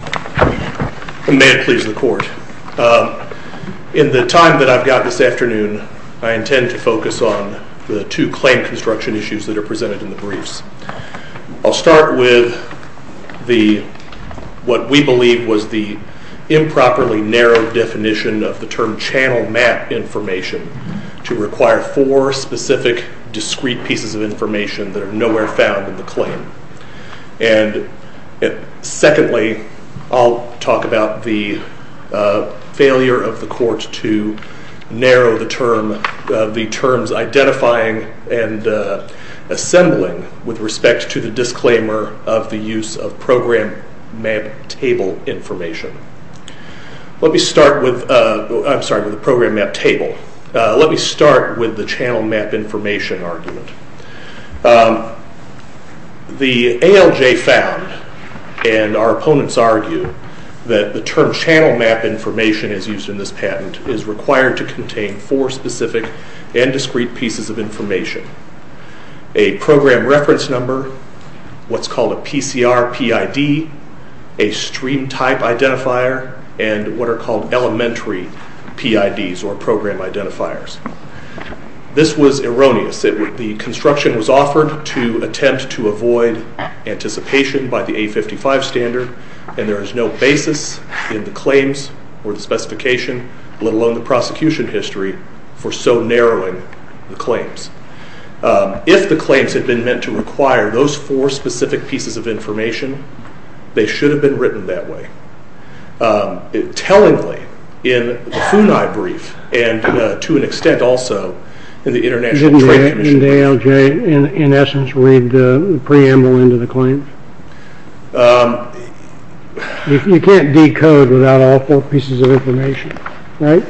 May it please the court. In the time that I've got this afternoon, I intend to focus on the two claim construction issues that are presented in the briefs. I'll start with what we believe was the improperly narrow definition of the term channel map information to require four specific discrete pieces of information that are nowhere found in the claim. And secondly, I'll talk about the failure of the court to narrow the terms identifying and assembling with respect to the disclaimer of the use of program map table information. Let me start with the program map table. Let me start with the channel map information argument. The ALJ found, and our opponents argue, that the term channel map information as used in this patent is required to contain four specific and discrete pieces of information. A program reference number, what's called a PCR PID, a stream type identifier, and what are called elementary PIDs or program identifiers. This was erroneous. The construction was offered to attempt to avoid anticipation by the A55 standard, and there is no basis in the claims or the specification, let alone the prosecution history, for so narrowing the claims. If the claims had been meant to require those four specific pieces of information, they should have been written that way. Tellingly, in the FUNAI brief, and to an extent also in the International Trade Commission. Didn't the ALJ in essence read the preamble into the claims? You can't decode without all four pieces of information, right?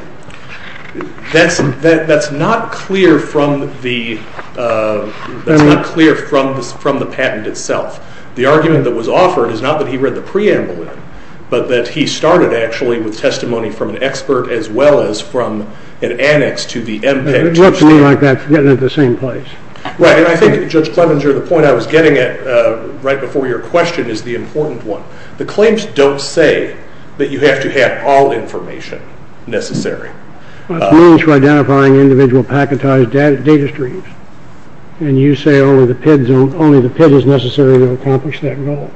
That's not clear from the patent itself. The argument that was offered is not that he read the preamble in, but that he started actually with testimony from an expert as well as from an annex to the MPEG. It looked to me like that was getting into the same place. Right, and I think Judge Clemenger, the point I was getting at right before your question is the important one. The claims don't say that you have to have all information necessary. It means you're identifying individual packetized data streams. And you say only the PID is necessary to accomplish that goal.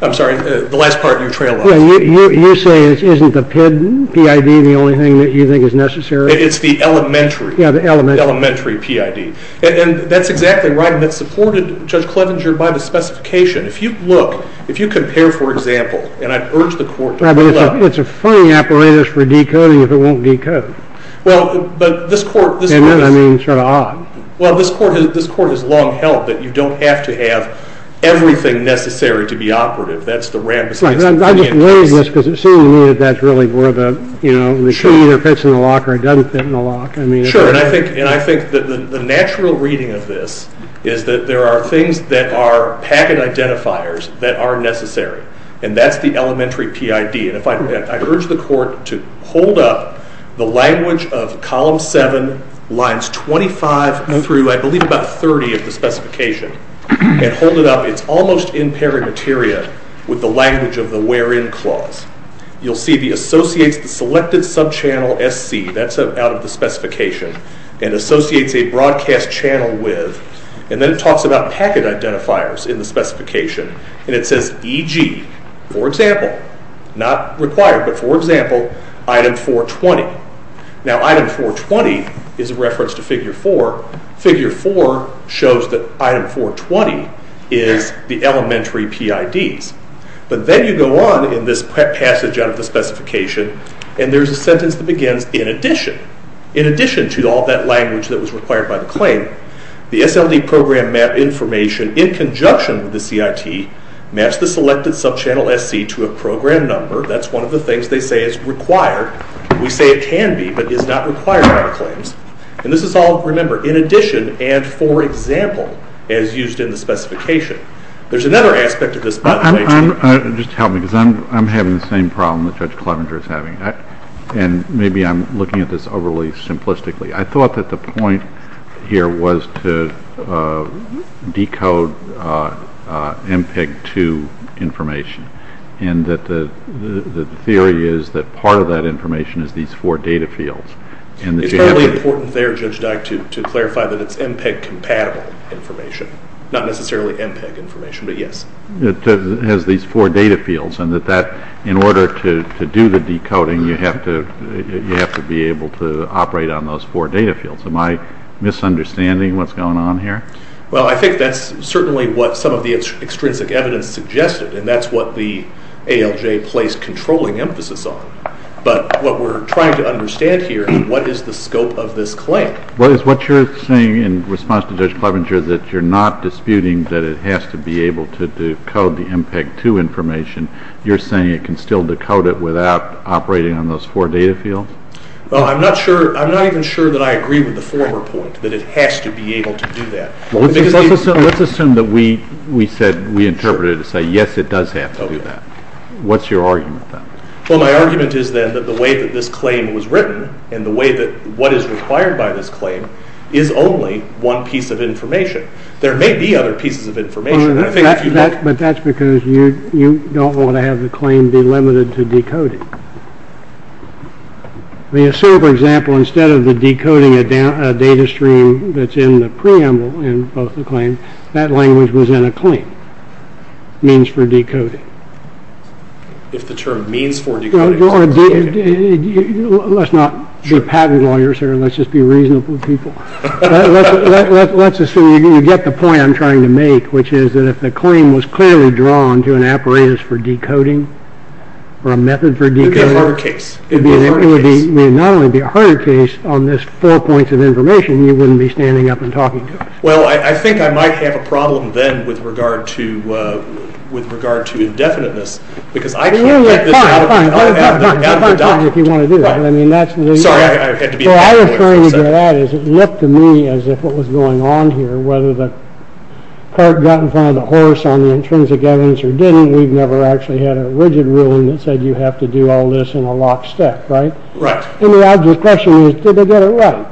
I'm sorry, the last part of your trail. You say isn't the PID the only thing that you think is necessary? It's the elementary PID. And that's exactly right, and that's supported, Judge Clemenger, by the specification. If you look, if you compare, for example, and I urge the court to pull up. It's a funny apparatus for decoding if it won't decode. Well, but this court. And then I mean sort of odd. Well, this court has long held that you don't have to have everything necessary to be operative. That's the rampant case. I'm just weighing this because it seems to me that that's really where the key either fits in the lock or it doesn't fit in the lock. Sure, and I think the natural reading of this is that there are things that are packet identifiers that are necessary, and that's the elementary PID. And I urge the court to hold up the language of Column 7, Lines 25 through, I believe, about 30 of the specification. And hold it up. It's almost in parameteria with the language of the Wherein Clause. You'll see the Associates Selected Subchannel SC. That's out of the specification. And Associates a Broadcast Channel With. And then it talks about packet identifiers in the specification. And it says, e.g., for example, not required, but for example, Item 420. Now, Item 420 is a reference to Figure 4. Figure 4 shows that Item 420 is the elementary PIDs. But then you go on in this passage out of the specification, and there's a sentence that begins, in addition. In addition to all that language that was required by the claim, the SLD program map information, in conjunction with the CIT, maps the Selected Subchannel SC to a program number. That's one of the things they say is required. We say it can be, but is not required by the claims. And this is all, remember, in addition and for example, as used in the specification. There's another aspect of this. Just help me, because I'm having the same problem that Judge Clevenger is having. And maybe I'm looking at this overly simplistically. I thought that the point here was to decode MPEG-2 information, and that the theory is that part of that information is these four data fields. It's probably important there, Judge Dyke, to clarify that it's MPEG-compatible information, not necessarily MPEG information, but yes. It has these four data fields, and that in order to do the decoding, you have to be able to operate on those four data fields. Am I misunderstanding what's going on here? Well, I think that's certainly what some of the extrinsic evidence suggested, and that's what the ALJ placed controlling emphasis on. But what we're trying to understand here is what is the scope of this claim? Well, is what you're saying in response to Judge Clevenger that you're not disputing that it has to be able to decode the MPEG-2 information? You're saying it can still decode it without operating on those four data fields? Well, I'm not even sure that I agree with the former point, that it has to be able to do that. Let's assume that we interpreted it to say, yes, it does have to do that. What's your argument then? Well, my argument is then that the way that this claim was written and the way that what is required by this claim is only one piece of information. There may be other pieces of information. But that's because you don't want to have the claim be limited to decoding. We assume, for example, instead of the decoding a data stream that's in the preamble in both the claims, that language was in a claim, means for decoding. If the term means for decoding. Let's not be patent lawyers here. Let's just be reasonable people. Let's assume you get the point I'm trying to make, which is that if the claim was clearly drawn to an apparatus for decoding or a method for decoding. It would be a harder case. It would not only be a harder case on this four points of information, you wouldn't be standing up and talking to it. Well, I think I might have a problem then with regard to indefiniteness, because I can't get this out of the docket. Sorry, I had to be a bit more... What I was trying to get at is it looked to me as if what was going on here, whether the cart got in front of the horse on the intrinsic evidence or didn't, we've never actually had a rigid ruling that said you have to do all this in a locked stack, right? Right. And the obvious question is, did they get it right?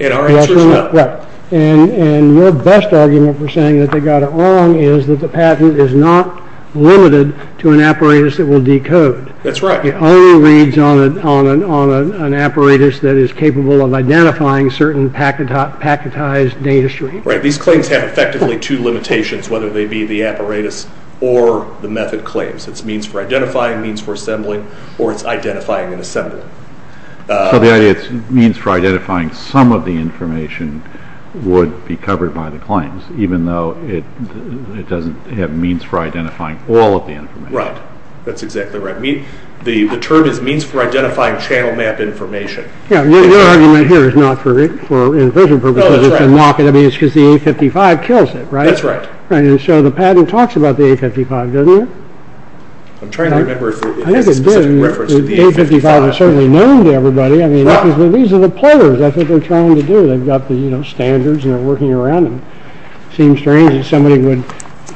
And our answer is no. Right. And your best argument for saying that they got it wrong is that the patent is not limited to an apparatus that will decode. That's right. It only reads on an apparatus that is capable of identifying certain packetized data streams. Right. These claims have effectively two limitations, whether they be the apparatus or the method claims. It's means for identifying, means for assembling, or it's identifying and assembling. So the idea is means for identifying some of the information would be covered by the claims, even though it doesn't have means for identifying all of the information. Right. That's exactly right. The term is means for identifying channel map information. Yeah, your argument here is not for infusion purposes. No, that's right. I mean, it's because the A55 kills it, right? That's right. And so the patent talks about the A55, doesn't it? I'm trying to remember if it has a specific reference to the A55. Well, it's certainly known to everybody. I mean, these are the players. That's what they're trying to do. They've got the, you know, standards and they're working around them. It seems strange that somebody would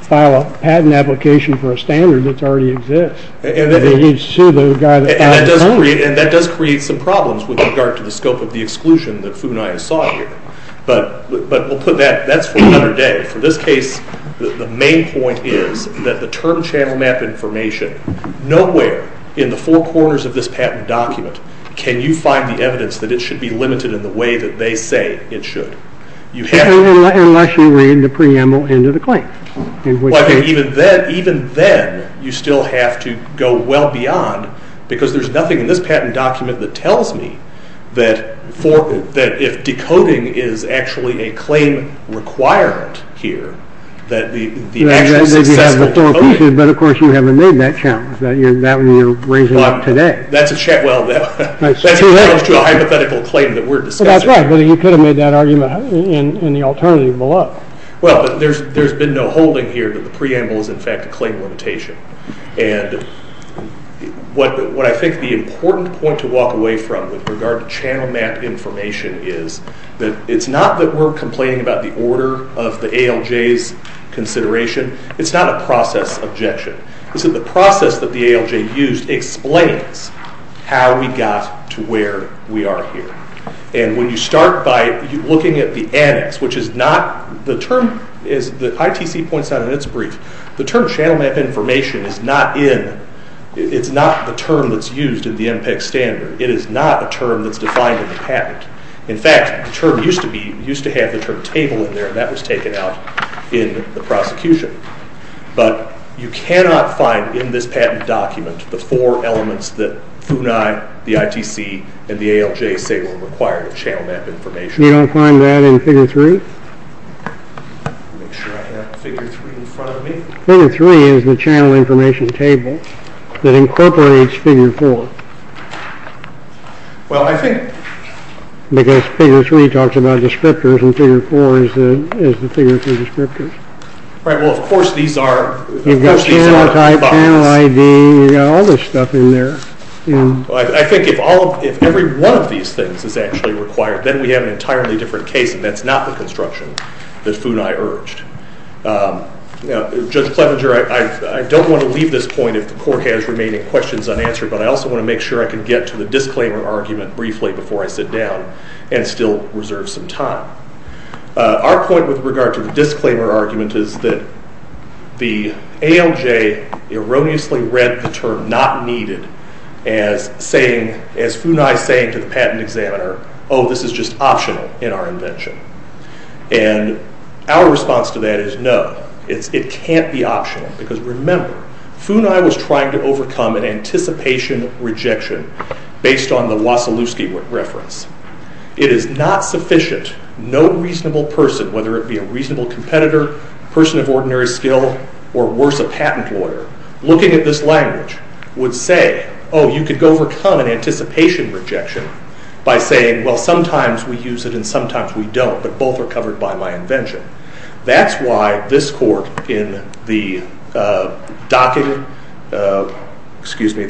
file a patent application for a standard that already exists. You'd sue the guy that filed the claim. And that does create some problems with regard to the scope of the exclusion that Fu and I saw here. But we'll put that, that's for another day. For this case, the main point is that the term channel map information, nowhere in the four corners of this patent document can you find the evidence that it should be limited in the way that they say it should. Unless you read the preamble into the claim. Even then, you still have to go well beyond, because there's nothing in this patent document that tells me that if decoding is actually a claim requirement here, that the actual successful coding. But of course you haven't made that challenge. That you're raising up today. That's a challenge to a hypothetical claim that we're discussing. That's right, but you could have made that argument in the alternative below. Well, there's been no holding here that the preamble is in fact a claim limitation. And what I think the important point to walk away from with regard to channel map information is that it's not that we're complaining about the order of the ALJ's consideration. It's not a process objection. It's that the process that the ALJ used explains how we got to where we are here. And when you start by looking at the annex, which is not, the term is, the ITC points out in its brief, the term channel map information is not in, it's not the term that's used in the MPEC standard. It is not a term that's defined in the patent. In fact, the term used to be, used to have the term table in there, and that was taken out in the prosecution. But you cannot find in this patent document the four elements that FUNAI, the ITC, and the ALJ say will require the channel map information. You don't find that in Figure 3? Let me make sure I have Figure 3 in front of me. Figure 3 is the channel information table that incorporates Figure 4. Well, I think... Because Figure 3 talks about descriptors, and Figure 4 is the figure for descriptors. Right, well, of course these are... You've got channel type, channel ID, you've got all this stuff in there. I think if every one of these things is actually required, then we have an entirely different case, and that's not the construction that FUNAI urged. Now, Judge Clevenger, I don't want to leave this point if the Court has remaining questions unanswered, but I also want to make sure I can get to the disclaimer argument briefly before I sit down and still reserve some time. Our point with regard to the disclaimer argument is that the ALJ erroneously read the term not needed as FUNAI saying to the patent examiner, oh, this is just optional in our invention. Because remember, FUNAI was trying to overcome an anticipation rejection based on the Wasilewski reference. It is not sufficient. No reasonable person, whether it be a reasonable competitor, person of ordinary skill, or worse, a patent lawyer, looking at this language would say, oh, you could overcome an anticipation rejection by saying, well, sometimes we use it and sometimes we don't, but both are covered by my invention. That's why this Court in the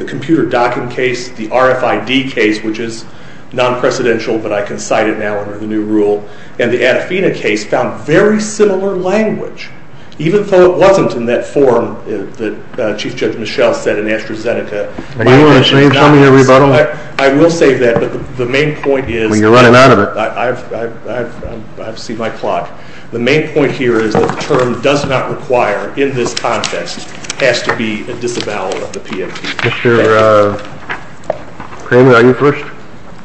computer docking case, the RFID case, which is non-precedential, but I can cite it now under the new rule, and the Atafina case found very similar language, even though it wasn't in that form that Chief Judge Michel said in AstraZeneca. Can you tell me your rebuttal? I will save that, but the main point is... When you're running out of it. I've seen my clock. The main point here is that the term does not require in this contest has to be a disavowal of the PMT. Mr. Cramer, are you first?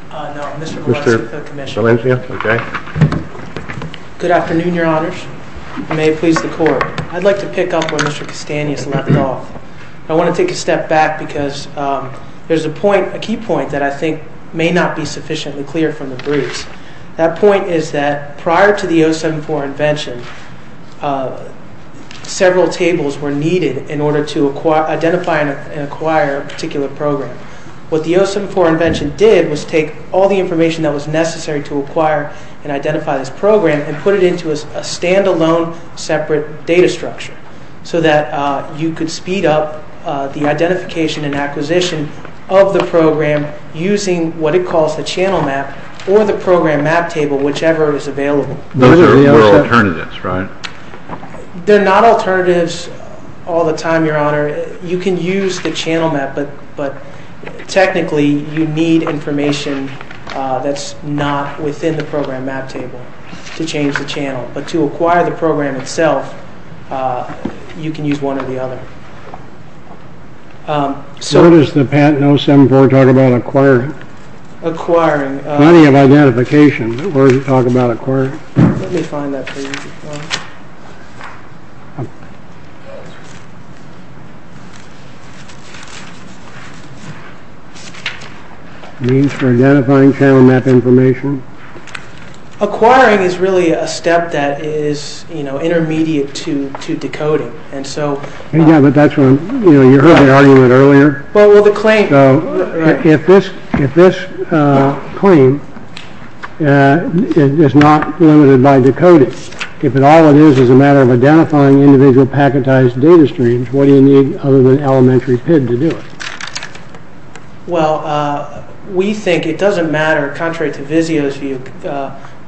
No, Mr. Gillespie, the Commissioner. Mr. Valencia? Okay. Good afternoon, Your Honors. May it please the Court. I'd like to pick up where Mr. Castanis left off. I want to take a step back because there's a key point that I think may not be sufficiently clear from the briefs. That point is that prior to the 074 invention, several tables were needed in order to identify and acquire a particular program. What the 074 invention did was take all the information that was necessary to acquire and identify this program and put it into a stand-alone separate data structure so that you could speed up the identification and acquisition of the program using what it calls the channel map or the program map table, whichever is available. Those are alternatives, right? They're not alternatives all the time, Your Honor. You can use the channel map, but technically you need information that's not within the program map table to change the channel. But to acquire the program itself, you can use one or the other. Where does the patent 074 talk about acquiring? Acquiring. Plenty of identification. Where does it talk about acquiring? Let me find that for you. It means for identifying channel map information. Acquiring is really a step that is intermediate to decoding. You heard the argument earlier. If this claim is not limited by decoding, if all it is is a matter of identifying individual packetized data streams, what do you need other than elementary PID to do it? Well, we think it doesn't matter, contrary to Vizio's view.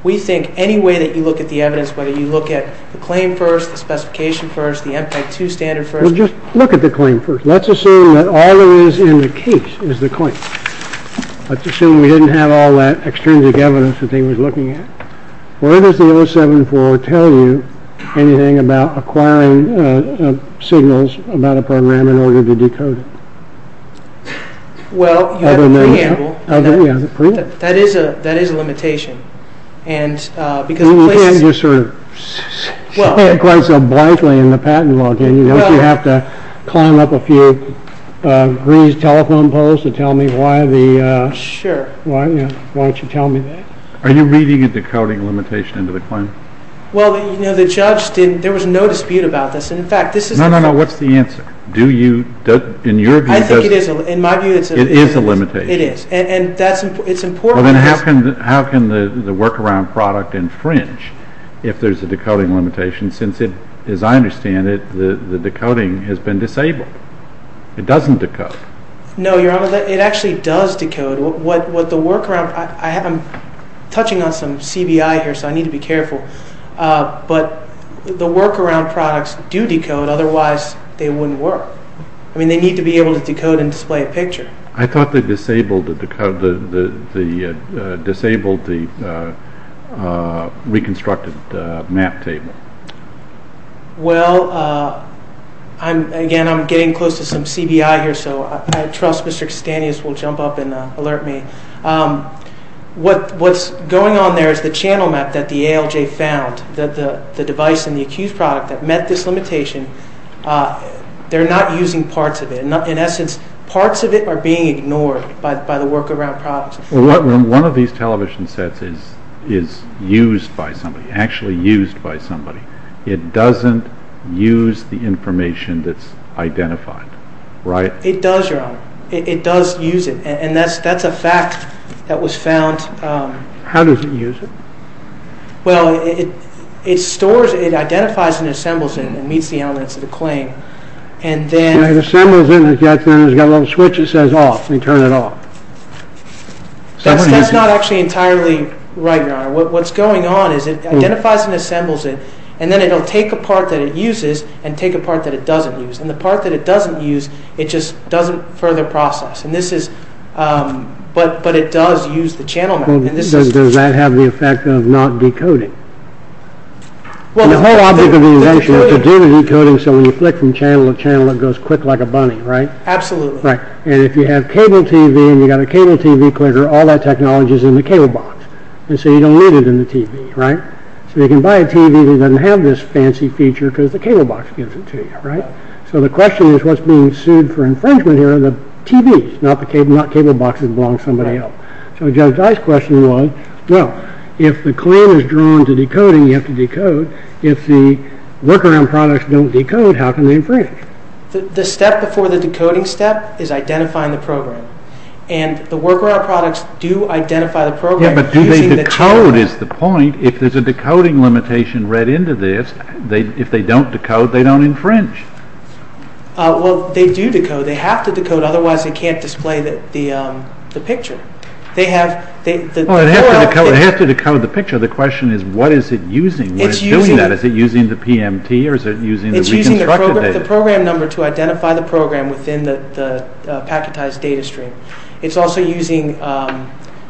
We think any way that you look at the evidence, whether you look at the claim first, the specification first, the MPEG-2 standard first. Well, just look at the claim first. Let's assume that all there is in the case is the claim. Let's assume we didn't have all that extrinsic evidence that they were looking at. Where does the 074 tell you anything about acquiring signals about a program in order to decode it? Well, you have a preamble. That is a limitation. Well, you can't just sort of show it quite so blithely in the patent law, can you? Don't you have to climb up a few greased telephone poles to tell me why the… Sure. Why don't you tell me that? Are you reading a decoding limitation into the claim? Well, you know, the judge didn't. There was no dispute about this. No, no, no. In your view, it is a limitation. It is. It is. Well, then how can the workaround product infringe if there is a decoding limitation since, as I understand it, the decoding has been disabled? It doesn't decode. No, Your Honor, it actually does decode. What the workaround… I'm touching on some CBI here, so I need to be careful. But the workaround products do decode. Otherwise, they wouldn't work. I mean, they need to be able to decode and display a picture. I thought they disabled the reconstructed map table. Well, again, I'm getting close to some CBI here, so I trust Mr. Cstanius will jump up and alert me. What's going on there is the channel map that the ALJ found, the device in the accused product that met this limitation. They're not using parts of it. In essence, parts of it are being ignored by the workaround products. Well, one of these television sets is used by somebody, actually used by somebody. It doesn't use the information that's identified, right? It does, Your Honor. It does use it, and that's a fact that was found. How does it use it? Well, it stores, it identifies and assembles it and meets the elements of the claim. It assembles it, and then it's got a little switch that says off, and you turn it off. That's not actually entirely right, Your Honor. What's going on is it identifies and assembles it, and then it'll take a part that it uses and take a part that it doesn't use. And the part that it doesn't use, it just doesn't further process. But it does use the channel map. Does that have the effect of not decoding? The whole object of the invention is to do the decoding so when you flick from channel to channel, it goes quick like a bunny, right? Absolutely. And if you have cable TV and you've got a cable TV clicker, all that technology is in the cable box, and so you don't need it in the TV, right? So you can buy a TV that doesn't have this fancy feature because the cable box gives it to you, right? So the question is what's being sued for infringement here are the TVs, not cable boxes that belong to somebody else. So Judge I's question was, well, if the claim is drawn to decoding, you have to decode. If the workaround products don't decode, how can they infringe? The step before the decoding step is identifying the program. And the workaround products do identify the program. Yeah, but do they decode is the point. If there's a decoding limitation read into this, if they don't decode, they don't infringe. Well, they do decode. They have to decode, otherwise they can't display the picture. It has to decode the picture. The question is what is it using? What is doing that? Is it using the PMT or is it using the reconstructed data? It's using the program number to identify the program within the packetized data stream. It's also using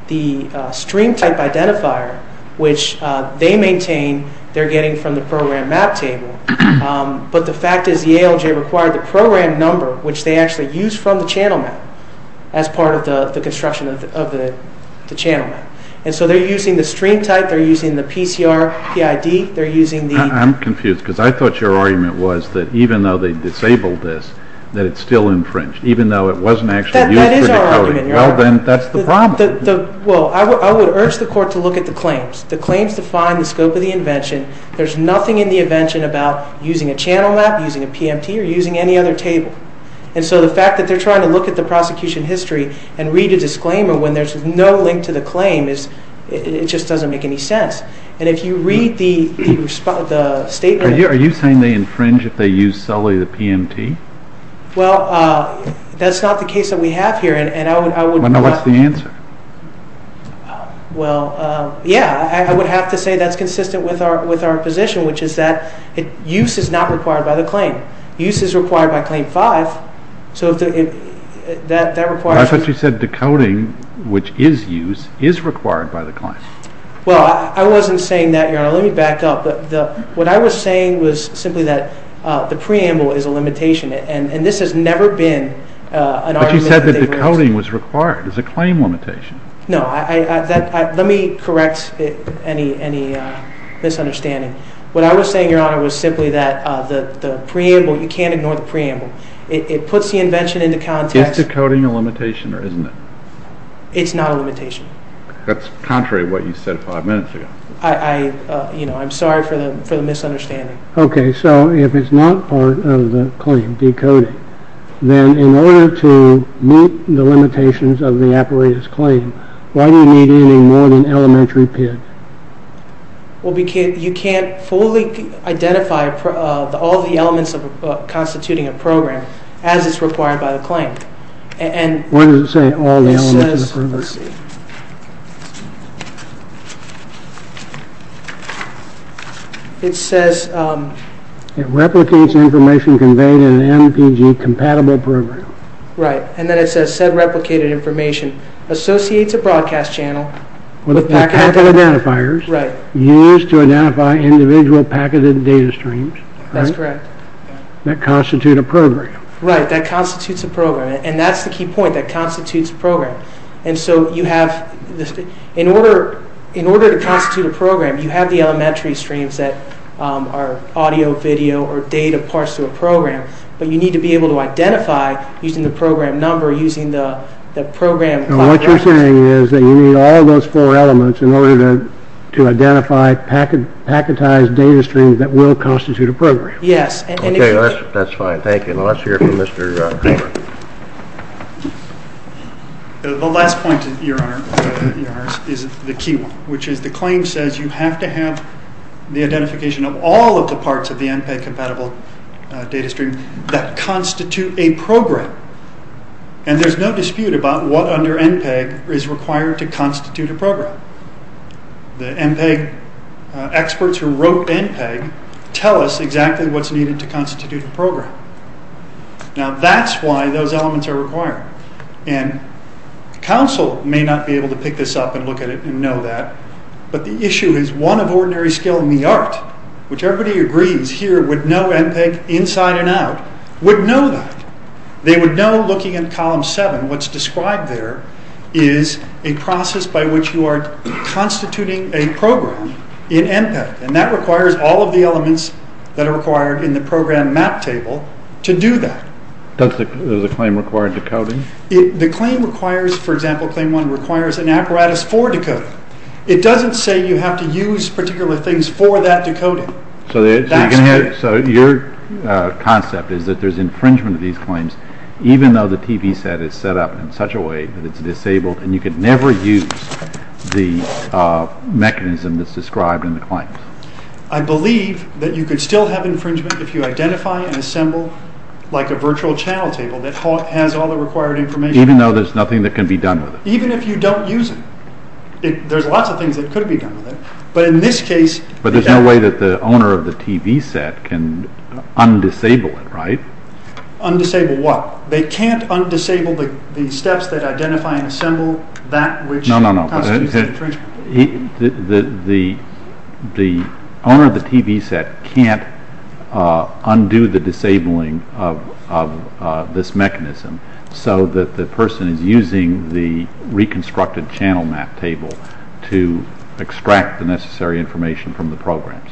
the stream type identifier, which they maintain they're getting from the program map table. But the fact is the ALJ required the program number, which they actually use from the channel map, as part of the construction of the channel map. And so they're using the stream type, they're using the PCR PID, they're using the... I'm confused because I thought your argument was that even though they disabled this, that it's still infringed, even though it wasn't actually used for decoding. That is our argument, Your Honor. Well, then that's the problem. Well, I would urge the court to look at the claims. The claims define the scope of the invention. There's nothing in the invention about using a channel map, using a PMT, or using any other table. And so the fact that they're trying to look at the prosecution history and read a disclaimer when there's no link to the claim just doesn't make any sense. And if you read the statement... Are you saying they infringe if they use solely the PMT? Well, that's not the case that we have here, and I would... What's the answer? Well, yeah, I would have to say that's consistent with our position, which is that use is not required by the claim. Use is required by Claim 5, so if that requires... I thought you said decoding, which is use, is required by the claim. Well, I wasn't saying that, Your Honor. Let me back up. What I was saying was simply that the preamble is a limitation, and this has never been an argument... But you said that decoding was required as a claim limitation. No, let me correct any misunderstanding. What I was saying, Your Honor, was simply that the preamble, you can't ignore the preamble. It puts the invention into context... Is decoding a limitation or isn't it? It's not a limitation. That's contrary to what you said five minutes ago. I'm sorry for the misunderstanding. Okay, so if it's not part of the claim, decoding, then in order to meet the limitations of the apparatus claim, why do you need any more than elementary PID? Well, you can't fully identify all the elements constituting a program as it's required by the claim. What does it say, all the elements of the program? Let's see. It says... It replicates information conveyed in an MPG-compatible program. Right, and then it says said replicated information associates a broadcast channel... With a packet of identifiers... Right. Used to identify individual packeted data streams... That's correct. That constitute a program. Right, that constitutes a program, and that's the key point, that constitutes a program. And so you have... In order to constitute a program, you have the elementary streams that are audio, video, or data parts to a program, but you need to be able to identify using the program number, using the program... What you're saying is that you need all those four elements in order to identify packetized data streams that will constitute a program. Yes. Okay, that's fine. Thank you. Now let's hear from Mr. Cooper. The last point, Your Honor, is the key one, which is the claim says you have to have the identification of all of the parts of the MPG-compatible data stream and there's no dispute about what under MPG is required to constitute a program. The MPG experts who wrote MPG tell us exactly what's needed to constitute a program. Now that's why those elements are required, and counsel may not be able to pick this up and look at it and know that, but the issue is one of ordinary skill in the art, which everybody agrees here would know MPG inside and out, would know that. They would know looking at column seven, what's described there is a process by which you are constituting a program in MPG and that requires all of the elements that are required in the program map table to do that. Does the claim require decoding? The claim requires, for example, claim one requires an apparatus for decoding. It doesn't say you have to use particular things for that decoding. So your concept is that there's infringement of these claims even though the TV set is set up in such a way that it's disabled and you can never use the mechanism that's described in the claims. I believe that you could still have infringement if you identify and assemble like a virtual channel table that has all the required information. Even though there's nothing that can be done with it. Even if you don't use it. There's lots of things that could be done with it, but in this case... But there's no way that the owner of the TV set can undisable it, right? Undisable what? They can't undisable the steps that identify and assemble that which constitutes the infringement. The owner of the TV set can't undo the disabling of this mechanism so that the person is using the reconstructed channel map table to extract the necessary information from the programs.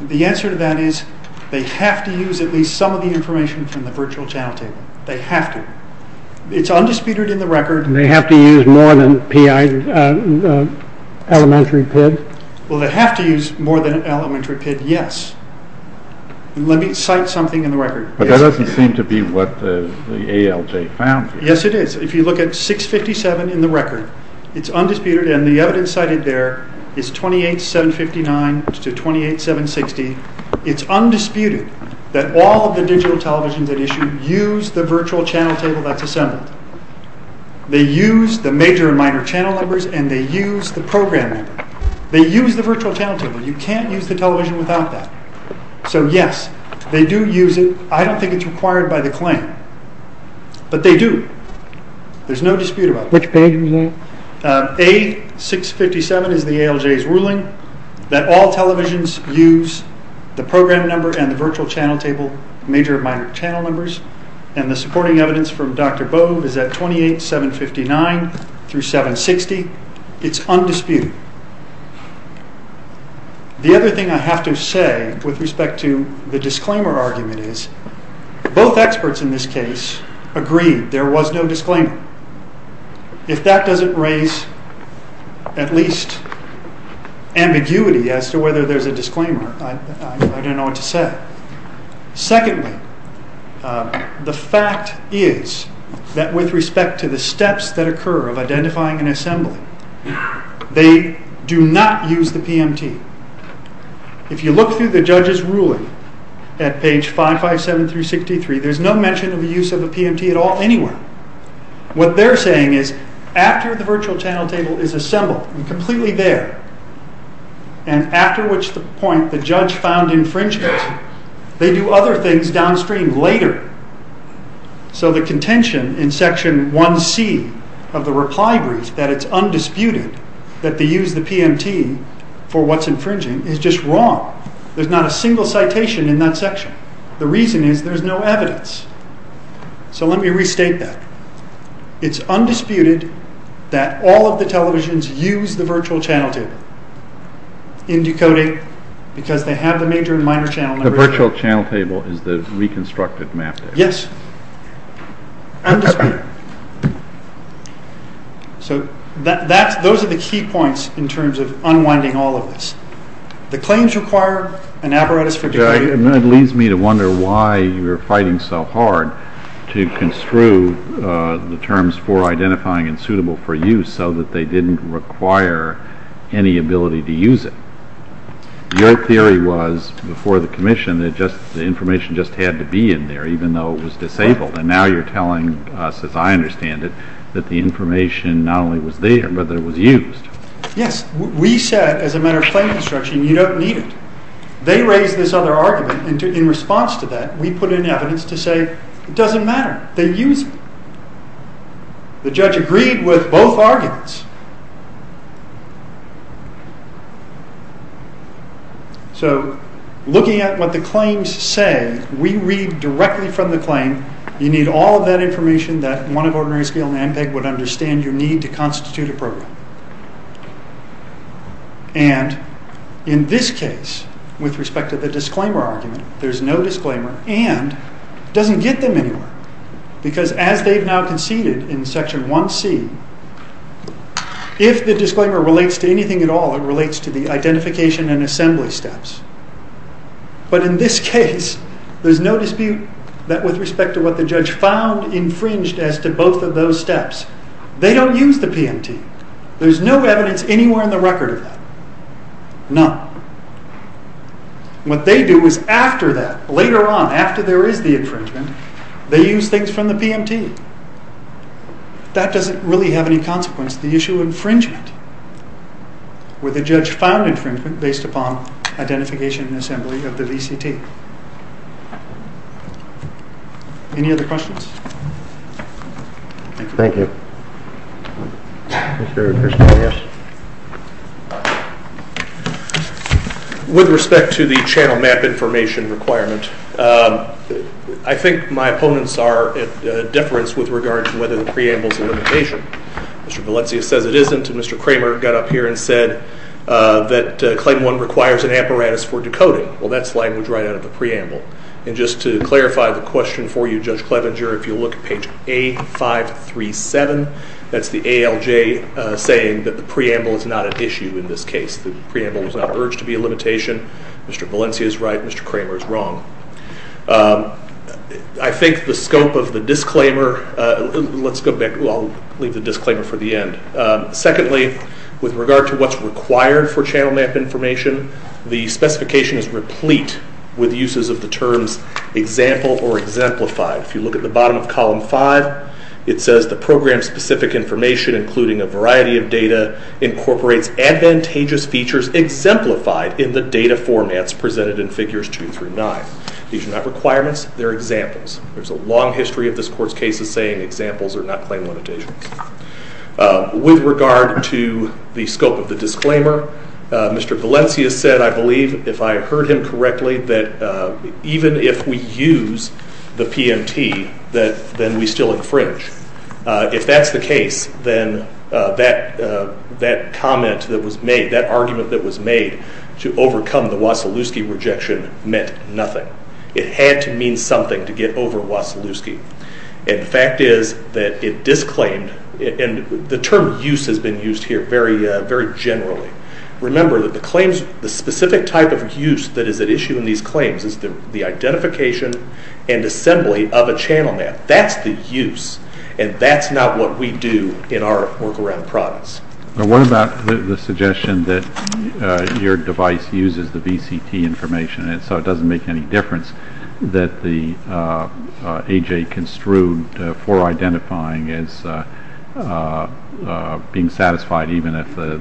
The answer to that is they have to use at least some of the information from the virtual channel table. They have to. It's undisputed in the record. And they have to use more than elementary PID? Well, they have to use more than elementary PID, yes. Let me cite something in the record. But that doesn't seem to be what the ALJ found. Yes, it is. If you look at 657 in the record, it's undisputed, and the evidence cited there is 28759 to 28760. It's undisputed that all of the digital televisions at issue use the virtual channel table that's assembled. They use the major and minor channel numbers and they use the program number. They use the virtual channel table. You can't use the television without that. So yes, they do use it. I don't think it's required by the claim. But they do. There's no dispute about it. Which page was that? A657 is the ALJ's ruling that all televisions use the program number and the virtual channel table major and minor channel numbers. And the supporting evidence from Dr. Bove is at 28759 through 760. It's undisputed. The other thing I have to say with respect to the disclaimer argument is both experts in this case agreed there was no disclaimer. If that doesn't raise at least ambiguity as to whether there's a disclaimer, I don't know what to say. Secondly, the fact is that with respect to the steps that occur of identifying and assembling, they do not use the PMT. If you look through the judge's ruling at page 557 through 63, there's no mention of the use of the PMT at all anywhere. What they're saying is after the virtual channel table is assembled and completely there, and after which point the judge found infringement, they do other things downstream later. So the contention in section 1C of the reply brief that it's undisputed that they use the PMT for what's infringing is just wrong. There's not a single citation in that section. The reason is there's no evidence. So let me restate that. It's undisputed that all of the televisions use the virtual channel table in decoding because they have the major and minor channel numbers. The virtual channel table is the reconstructed map table. Yes. Undisputed. So those are the key points in terms of unwinding all of this. The claims require an apparatus for decoding. It leads me to wonder why you're fighting so hard to construe the terms for identifying and suitable for use so that they didn't require any ability to use it. Your theory was, before the commission, that the information just had to be in there even though it was disabled. And now you're telling us, as I understand it, that the information not only was there, but that it was used. Yes. We said, as a matter of plain instruction, you don't need it. They raised this other argument. In response to that, we put in evidence to say it doesn't matter. They use it. The judge agreed with both arguments. So, looking at what the claims say, we read directly from the claim, you need all of that information that one of Ordinary Scale and ANPEG would understand your need to constitute a program. And, in this case, with respect to the disclaimer argument, there's no disclaimer, and it doesn't get them anywhere. Because, as they've now conceded, in Section 1C, if the disclaimer relates to anything at all, it relates to the identification and assembly steps. But, in this case, there's no dispute that, with respect to what the judge found infringed as to both of those steps, they don't use the PMT. There's no evidence anywhere in the record of that. None. What they do is, after that, later on, after there is the infringement, they use things from the PMT. That doesn't really have any consequence. The issue of infringement where the judge found infringement based upon identification and assembly of the VCT. Any other questions? Thank you. Mr. Christian, yes. With respect to the channel map information requirement, I think my opponents are at a deference with regard to whether the preamble is a limitation. Mr. Valencia says it isn't. Mr. Kramer got up here and said that Claim 1 requires an apparatus for decoding. Well, that's language right out of the preamble. Just to clarify the question for you, Judge Clevenger, if you look at page A537, that's the ALJ saying that the preamble is not an issue in this case. The preamble was not urged to be a limitation. Mr. Valencia is right. Mr. Kramer is wrong. I think the scope of the disclaimer Let's go back. I'll leave the disclaimer for the end. Secondly, with regard to what's required for channel map information, the specification is replete with uses of the terms example or exemplified. If you look at the bottom of column 5, it says the program-specific information including a variety of data incorporates advantageous features exemplified in the data formats presented in figures 2 through 9. These are not requirements. They're examples. There's a long history of this Court's cases saying examples are not claim limitations. With regard to the scope of the disclaimer, Mr. Valencia said, I believe, if I heard him correctly, that even if we use the PMT, then we still infringe. If that's the case, then that comment that was made, that argument that was made to overcome the Wasilewski rejection meant nothing. It had to mean something to get over Wasilewski. The fact is that it disclaimed and the term use has been used here very generally. Remember that the claims the specific type of use that is at issue in these claims is the identification and assembly of a channel map. That's the use and that's not what we do in our work around products. What about the suggestion that your device uses the VCT information and so it doesn't make any difference that the AJ construed for identifying as being satisfied even if the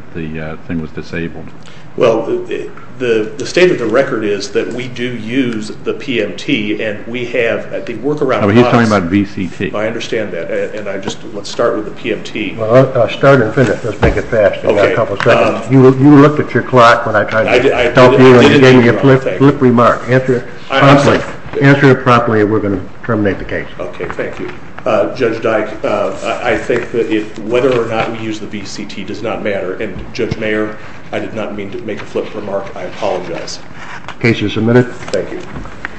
thing was disabled? The state of the record is that we do use the PMT and we have at the work around products He's talking about VCT. I understand that. Let's start with the PMT. Start and finish. Let's make it fast. You looked at your clock when I tried to talk to you and you gave me a flip remark. Answer it properly and we're going to terminate the case. Judge Dyke, I think that whether or not we use the VCT does not matter and Judge Mayer I did not mean to make a flip remark. I apologize. Case is submitted.